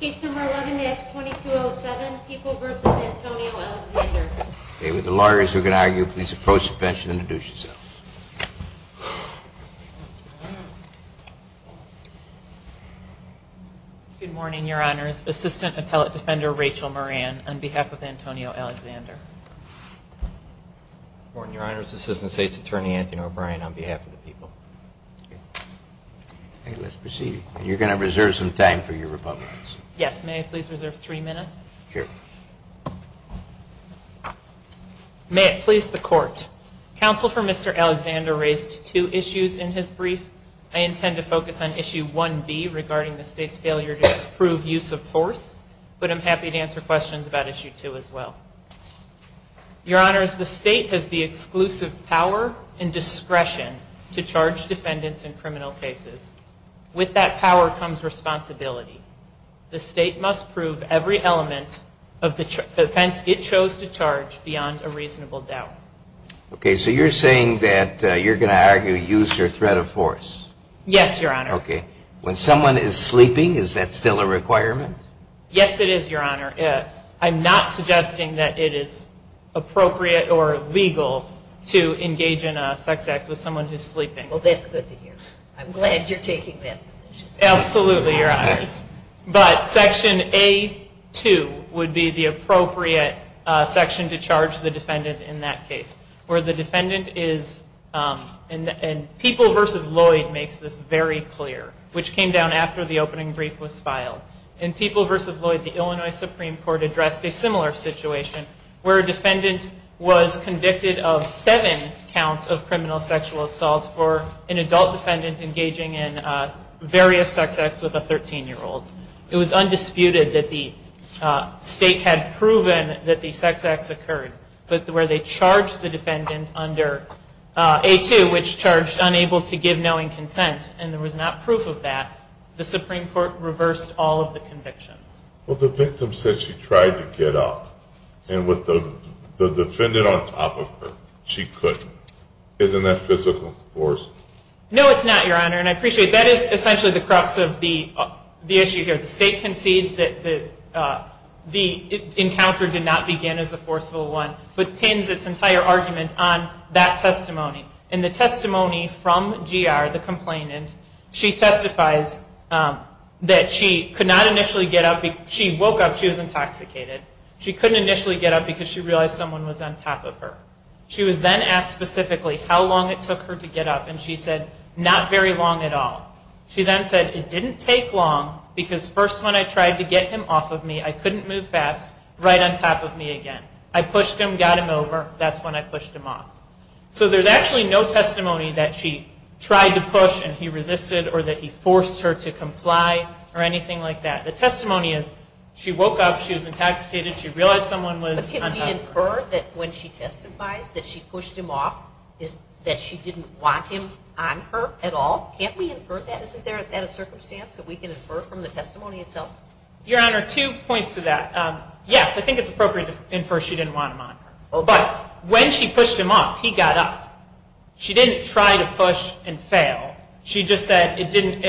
Case number 11-S-2207, People v. Antonio Alexander. Okay, with the lawyers who can argue, please approach the bench and introduce yourselves. Good morning, Your Honors. Assistant Appellate Defender Rachel Moran, on behalf of Antonio Alexander. Good morning, Your Honors. Assistant State's Attorney Anthony O'Brien, on behalf of the People. Okay, let's proceed. And you're going to reserve some time for your rebuttals. Yes, may I please reserve three minutes? Sure. May it please the Court, Counsel for Mr. Alexander raised two issues in his brief. I intend to focus on Issue 1B regarding the State's failure to approve use of force, but I'm happy to answer questions about Issue 2 as well. Your Honors, the State has the exclusive power and discretion to charge defendants in criminal cases. With that power comes responsibility. The State must prove every element of the offense it chose to charge beyond a reasonable doubt. Okay, so you're saying that you're going to argue use or threat of force? Yes, Your Honor. Okay. When someone is sleeping, is that still a requirement? Yes, it is, Your Honor. I'm not suggesting that it is appropriate or legal to engage in a sex act with someone who's sleeping. Well, that's good to hear. I'm glad you're taking that position. Absolutely, Your Honors. But Section A.2 would be the appropriate section to charge the defendant in that case. And People v. Lloyd makes this very clear, which came down after the opening brief was filed. In People v. Lloyd, the Illinois Supreme Court addressed a similar situation where a defendant was convicted of seven counts of criminal sexual assault for an adult defendant engaging in various sex acts with a 13-year-old. It was undisputed that the State had proven that the sex acts occurred. But where they charged the defendant under A.2, which charged unable to give knowing consent, and there was not proof of that, the Supreme Court reversed all of the convictions. Well, the victim said she tried to get up. And with the defendant on top of her, she couldn't. Isn't that physical force? No, it's not, Your Honor. And I appreciate that is essentially the crux of the issue here. The State concedes that the encounter did not begin as a forceful one, but pins its entire argument on that testimony. And the testimony from GR, the complainant, she testifies that she could not initially get up. She woke up, she was intoxicated. She couldn't initially get up because she realized someone was on top of her. She was then asked specifically how long it took her to get up, and she said, not very long at all. She then said, it didn't take long, because first when I tried to get him off of me, I couldn't move fast, right on top of me again. I pushed him, got him over, that's when I pushed him off. So there's actually no testimony that she tried to push and he resisted or that he forced her to comply or anything like that. The testimony is, she woke up, she was intoxicated, she realized someone was on top of her. But can we infer that when she testifies that she pushed him off, that she didn't want him on her at all? Can't we infer that? Isn't that a circumstance that we can infer from the testimony itself? Your Honor, two points to that. Yes, I think it's appropriate to infer she didn't want him on her. But when she pushed him off, he got up. She didn't try to push and fail. She just said it didn't,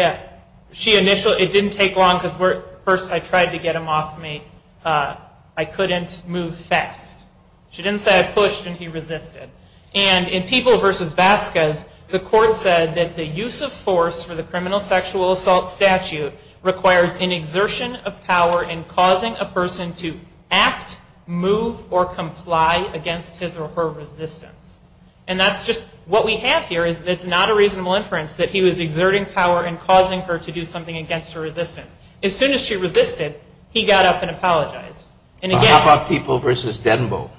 she initially, it didn't take long because first I tried to get him off of me, I couldn't move fast. She didn't say I pushed and he resisted. And in People v. Vasquez, the court said that the use of force for the criminal sexual assault statute requires an exertion of power in causing a person to act, move, or comply against his or her resistance. And that's just, what we have here is that it's not a reasonable inference that he was exerting power in causing her to do something against her resistance. As soon as she resisted, he got up and apologized. How about People v. Denbo?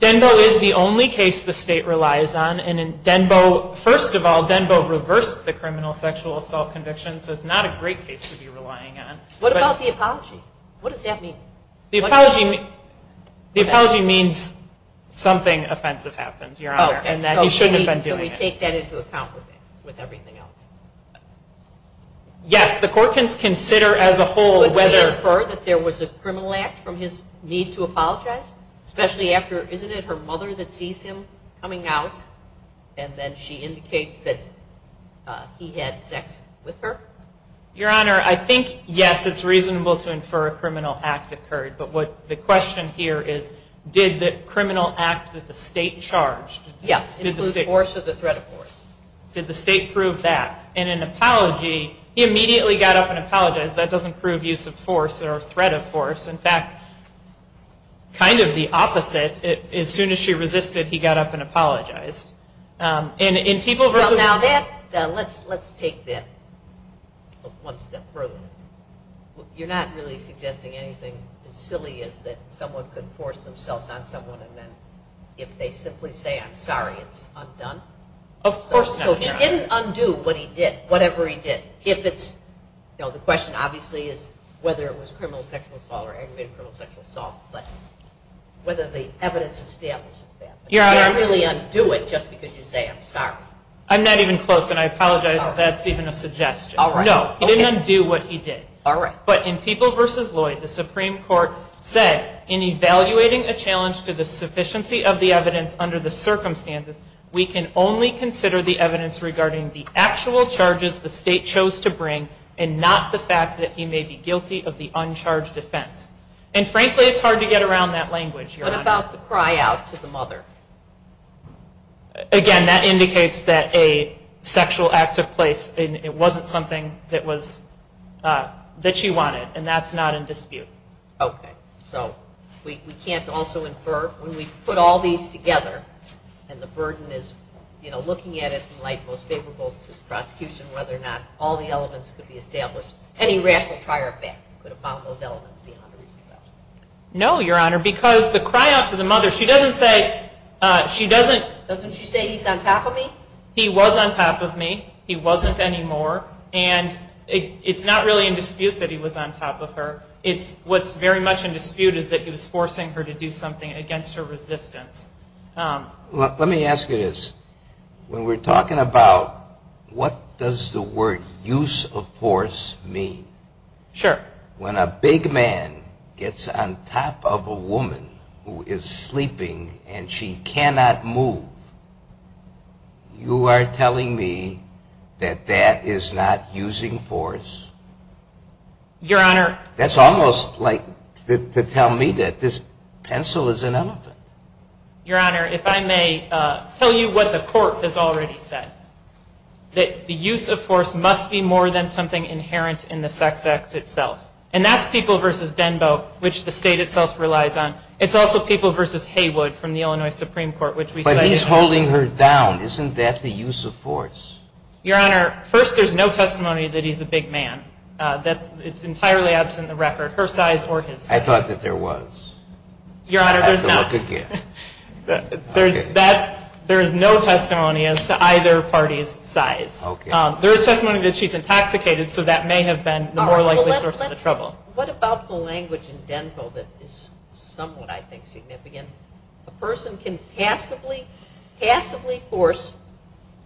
Denbo is the only case the state relies on, and first of all, Denbo reversed the criminal sexual assault conviction, so it's not a great case to be relying on. What about the apology? What does that mean? The apology means something offensive happened, Your Honor, and that he shouldn't have been doing it. Can we take that into account with everything else? Yes, the court can consider as a whole whether... Could we infer that there was a criminal act from his need to apologize? Especially after, isn't it her mother that sees him coming out and then she indicates that he had sex with her? Your Honor, I think, yes, it's reasonable to infer a criminal act occurred, but the question here is, did the criminal act that the state charged... Yes, include force or the threat of force. Did the state prove that? In an apology, he immediately got up and apologized. That doesn't prove use of force or threat of force. In fact, kind of the opposite. As soon as she resisted, he got up and apologized. Let's take that one step further. You're not really suggesting anything as silly as that someone could force themselves on someone, and then if they simply say, I'm sorry, it's undone? Of course not, Your Honor. He didn't undo what he did, whatever he did. The question obviously is whether it was criminal sexual assault or aggravated criminal sexual assault, but whether the evidence establishes that. I'm not even close, and I apologize if that's even a suggestion. No, he didn't undo what he did. But in People v. Lloyd, the Supreme Court said, in evaluating a challenge to the sufficiency of the evidence under the circumstances, we can only consider the evidence regarding the actual charges the state chose to bring and not the fact that he may be guilty of the uncharged offense. And frankly, it's hard to get around that language, Your Honor. What about the cry out to the mother? Again, that indicates that a sexual act took place, and it wasn't something that she wanted, and that's not in dispute. Okay, so we can't also infer, when we put all these together, and the burden is looking at it in the light most favorable to the prosecution, whether or not all the elements could be established. Any rational trier effect could have found those elements beyond a reasonable doubt. No, Your Honor, because the cry out to the mother, she doesn't say he's on top of me. He was on top of me. He wasn't anymore, and it's not really in dispute that he was on top of her. What's very much in dispute is that he was forcing her to do something against her resistance. Let me ask you this. When we're talking about what does the word use of force mean? Sure. When a big man gets on top of a woman who is sleeping and she cannot move, you are telling me that that is not using force? Your Honor. That's almost like to tell me that this pencil is an elephant. Your Honor, if I may tell you what the court has already said, that the use of force must be more than something inherent in the sex act itself, and that's people versus Denbo, which the state itself relies on. It's also people versus Haywood from the Illinois Supreme Court. But he's holding her down. Isn't that the use of force? Your Honor, first, there's no testimony that he's a big man. It's entirely absent the record, her size or his size. I thought that there was. There is no testimony as to either party's size. There is testimony that she's intoxicated, so that may have been the more likely source of the trouble. What about the language in Denbo that is somewhat, I think, significant? A person can passively force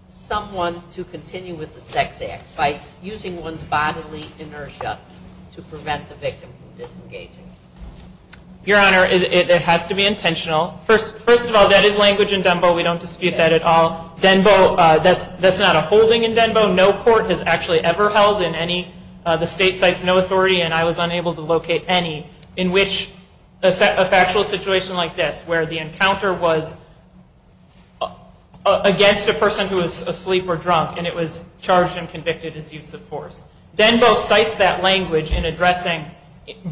someone to continue with the sex act by using one's bodily inertia to prevent the victim from disengaging. Your Honor, it has to be intentional. First of all, that is language in Denbo. We don't dispute that at all. Denbo, that's not a holding in Denbo. No court has actually ever held in any. The state cites no authority, and I was unable to locate any, in which a factual situation like this, where the encounter was against a person who was asleep or drunk, and it was charged and convicted as use of force. Denbo cites that language in addressing,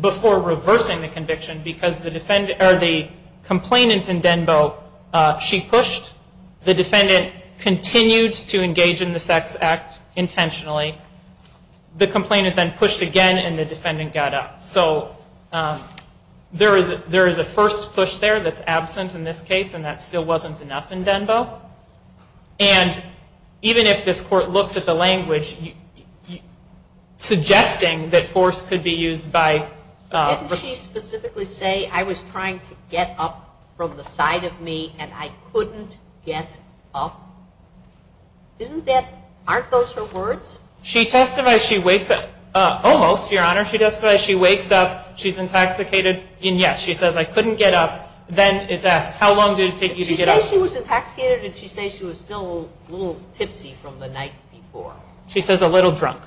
before reversing the conviction, because the defendant, or the complainant in Denbo, she pushed. The defendant continued to engage in the sex act intentionally. The complainant then pushed again, and the defendant got up. So there is a first push there that's absent in this case, and that still wasn't enough in Denbo. And even if this court looks at the language, suggesting that force could be used by... to get up, aren't those her words? She testifies she wakes up, almost, Your Honor, she testifies she wakes up, she's intoxicated, and yes, she says I couldn't get up, then it's asked, how long did it take you to get up? Did she say she was intoxicated, or did she say she was still a little tipsy from the night before? She says a little drunk.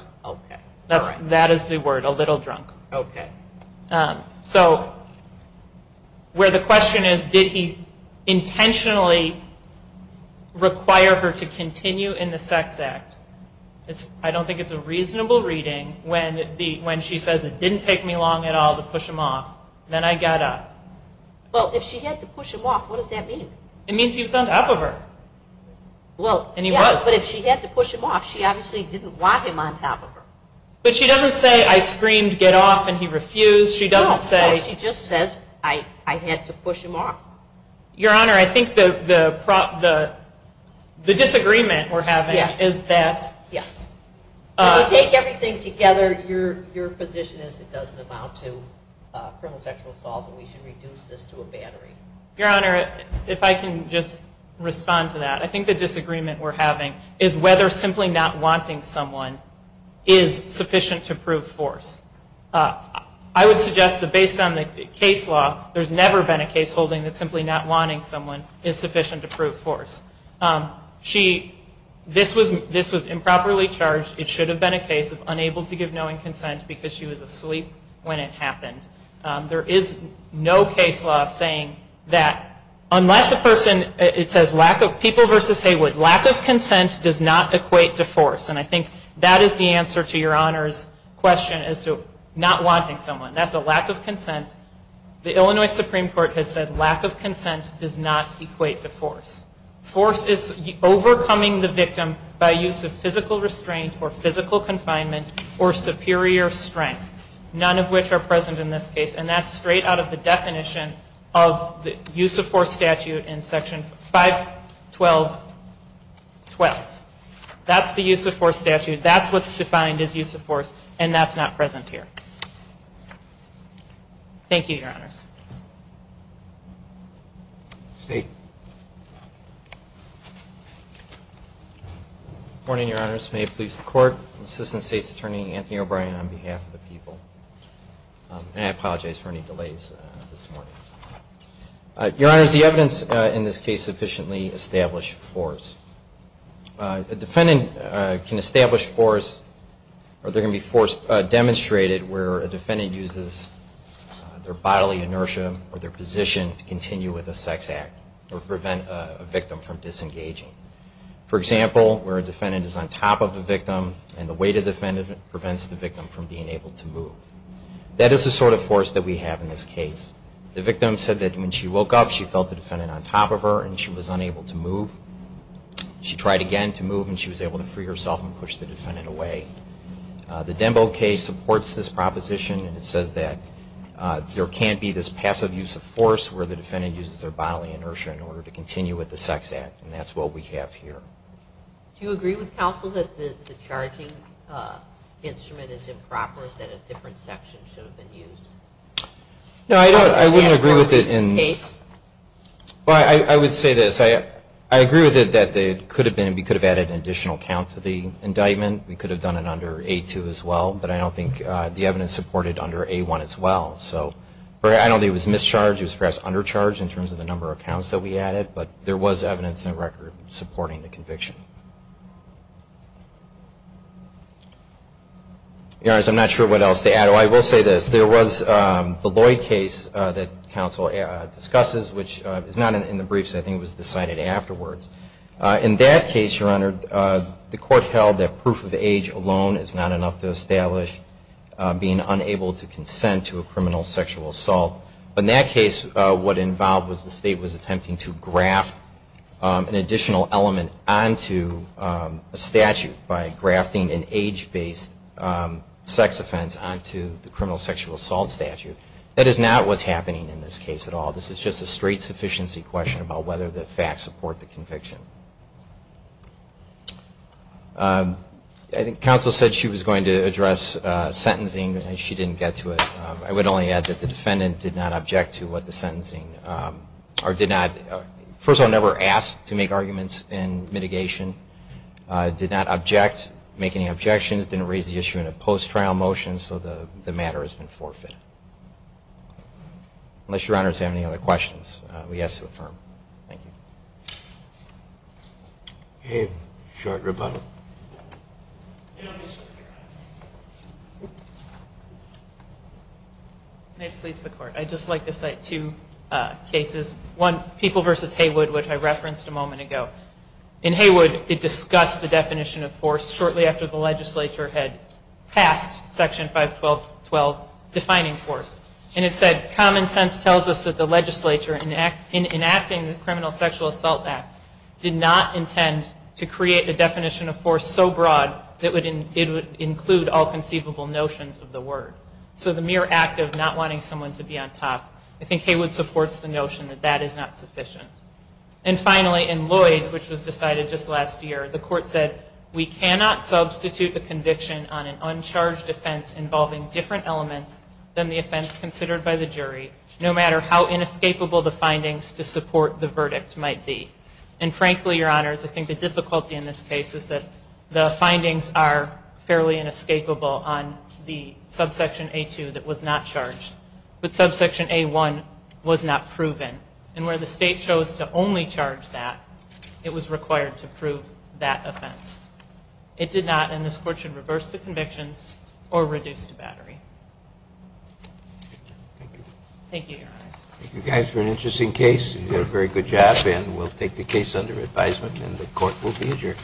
That is the word, a little drunk. Okay. So where the question is, did he intentionally require her to continue in the sex act? I don't think it's a reasonable reading when she says, it didn't take me long at all to push him off, then I got up. Well, if she had to push him off, what does that mean? It means he was on top of her, and he was. But if she had to push him off, she obviously didn't want him on top of her. But she doesn't say, I screamed, get off, and he refused. No, she just says, I had to push him off. Your Honor, I think the disagreement we're having is that... If we take everything together, your position is it doesn't amount to criminal sexual assault, and we should reduce this to a battery. Your Honor, if I can just respond to that, I think the disagreement we're having is whether simply not wanting someone is sufficient to prove force. I would suggest that based on the case law, there's never been a case holding that simply not wanting someone is sufficient to prove force. This was improperly charged. It should have been a case of unable to give knowing consent because she was asleep when it happened. There is no case law saying that unless a person... It says people versus Heywood. Lack of consent does not equate to force. And I think that is the answer to your Honor's question as to not wanting someone. That's a lack of consent. The Illinois Supreme Court has said lack of consent does not equate to force. Force is overcoming the victim by use of physical restraint or physical confinement or superior strength, none of which are present in this case, and that's straight out of the definition of the use of force statute in Section 512.12. That's the use of force statute. That's what's defined as use of force, and that's not present here. Thank you, Your Honors. State. Good morning, Your Honors. May it please the Court. Assistant State's Attorney Anthony O'Brien on behalf of the people. And I apologize for any delays this morning. Your Honors, the evidence in this case sufficiently established force. A defendant can establish force or there can be force demonstrated where a defendant uses their bodily inertia or their position to continue with a sex act or prevent a victim from disengaging. For example, where a defendant is on top of a victim and the weight of the defendant prevents the victim from being able to move. That is the sort of force that we have in this case. The victim said that when she woke up she felt the defendant on top of her and she was unable to move. She tried again to move and she was able to free herself and push the defendant away. The Denbo case supports this proposition and it says that there can be this passive use of force where the defendant uses their bodily inertia in order to continue with the sex act, and that's what we have here. Do you agree with counsel that the charging instrument is improper, that a different section should have been used? No, I don't. I wouldn't agree with it. I would say this. I agree with it that we could have added an additional count to the indictment. We could have done it under A2 as well, but I don't think the evidence supported under A1 as well. I don't think it was mischarged. It was perhaps undercharged in terms of the number of counts that we added, but there was evidence and record supporting the conviction. Your Honor, I'm not sure what else to add. I will say this. There was the Lloyd case that counsel discusses, which is not in the briefs. I think it was decided afterwards. In that case, Your Honor, the court held that proof of age alone is not enough to establish being unable to consent to a criminal sexual assault. But in that case, what involved was the state was attempting to graft an additional element onto a statute by grafting an age-based sex offense onto the criminal sexual assault statute. That is not what's happening in this case at all. This is just a straight sufficiency question about whether the facts support the conviction. I think counsel said she was going to address sentencing. She didn't get to it. I would only add that the defendant did not object to what the sentencing, or did not, first of all, never asked to make arguments in mitigation. Did not object, make any objections, didn't raise the issue in a post-trial motion, so the matter has been forfeited. Unless Your Honor has any other questions, we ask to affirm. Thank you. Okay. Short rebuttal. May it please the Court. I'd just like to cite two cases. One, People v. Haywood, which I referenced a moment ago. In Haywood, it discussed the definition of force shortly after the legislature had passed Section 512.12 defining force. And it said, common sense tells us that the legislature, in enacting the criminal sexual assault act, did not intend to create a definition of force so broad that it would include all conceivable notions of the word. So the mere act of not wanting someone to be on top, I think Haywood supports the notion that that is not sufficient. And finally, in Lloyd, which was decided just last year, the Court said, we cannot substitute the conviction on an uncharged offense involving different elements than the offense considered by the jury, no matter how inescapable the findings to support the verdict might be. And frankly, Your Honors, I think the difficulty in this case is that the findings are fairly inescapable on the subsection A2 that was not charged. But subsection A1 was not proven. And where the State chose to only charge that, it was required to prove that offense. It did not, and this Court should reverse the convictions or reduce the battery. Thank you. Thank you, Your Honors. Thank you guys for an interesting case. You did a very good job, and we'll take the case under advisement and the Court will be adjourned.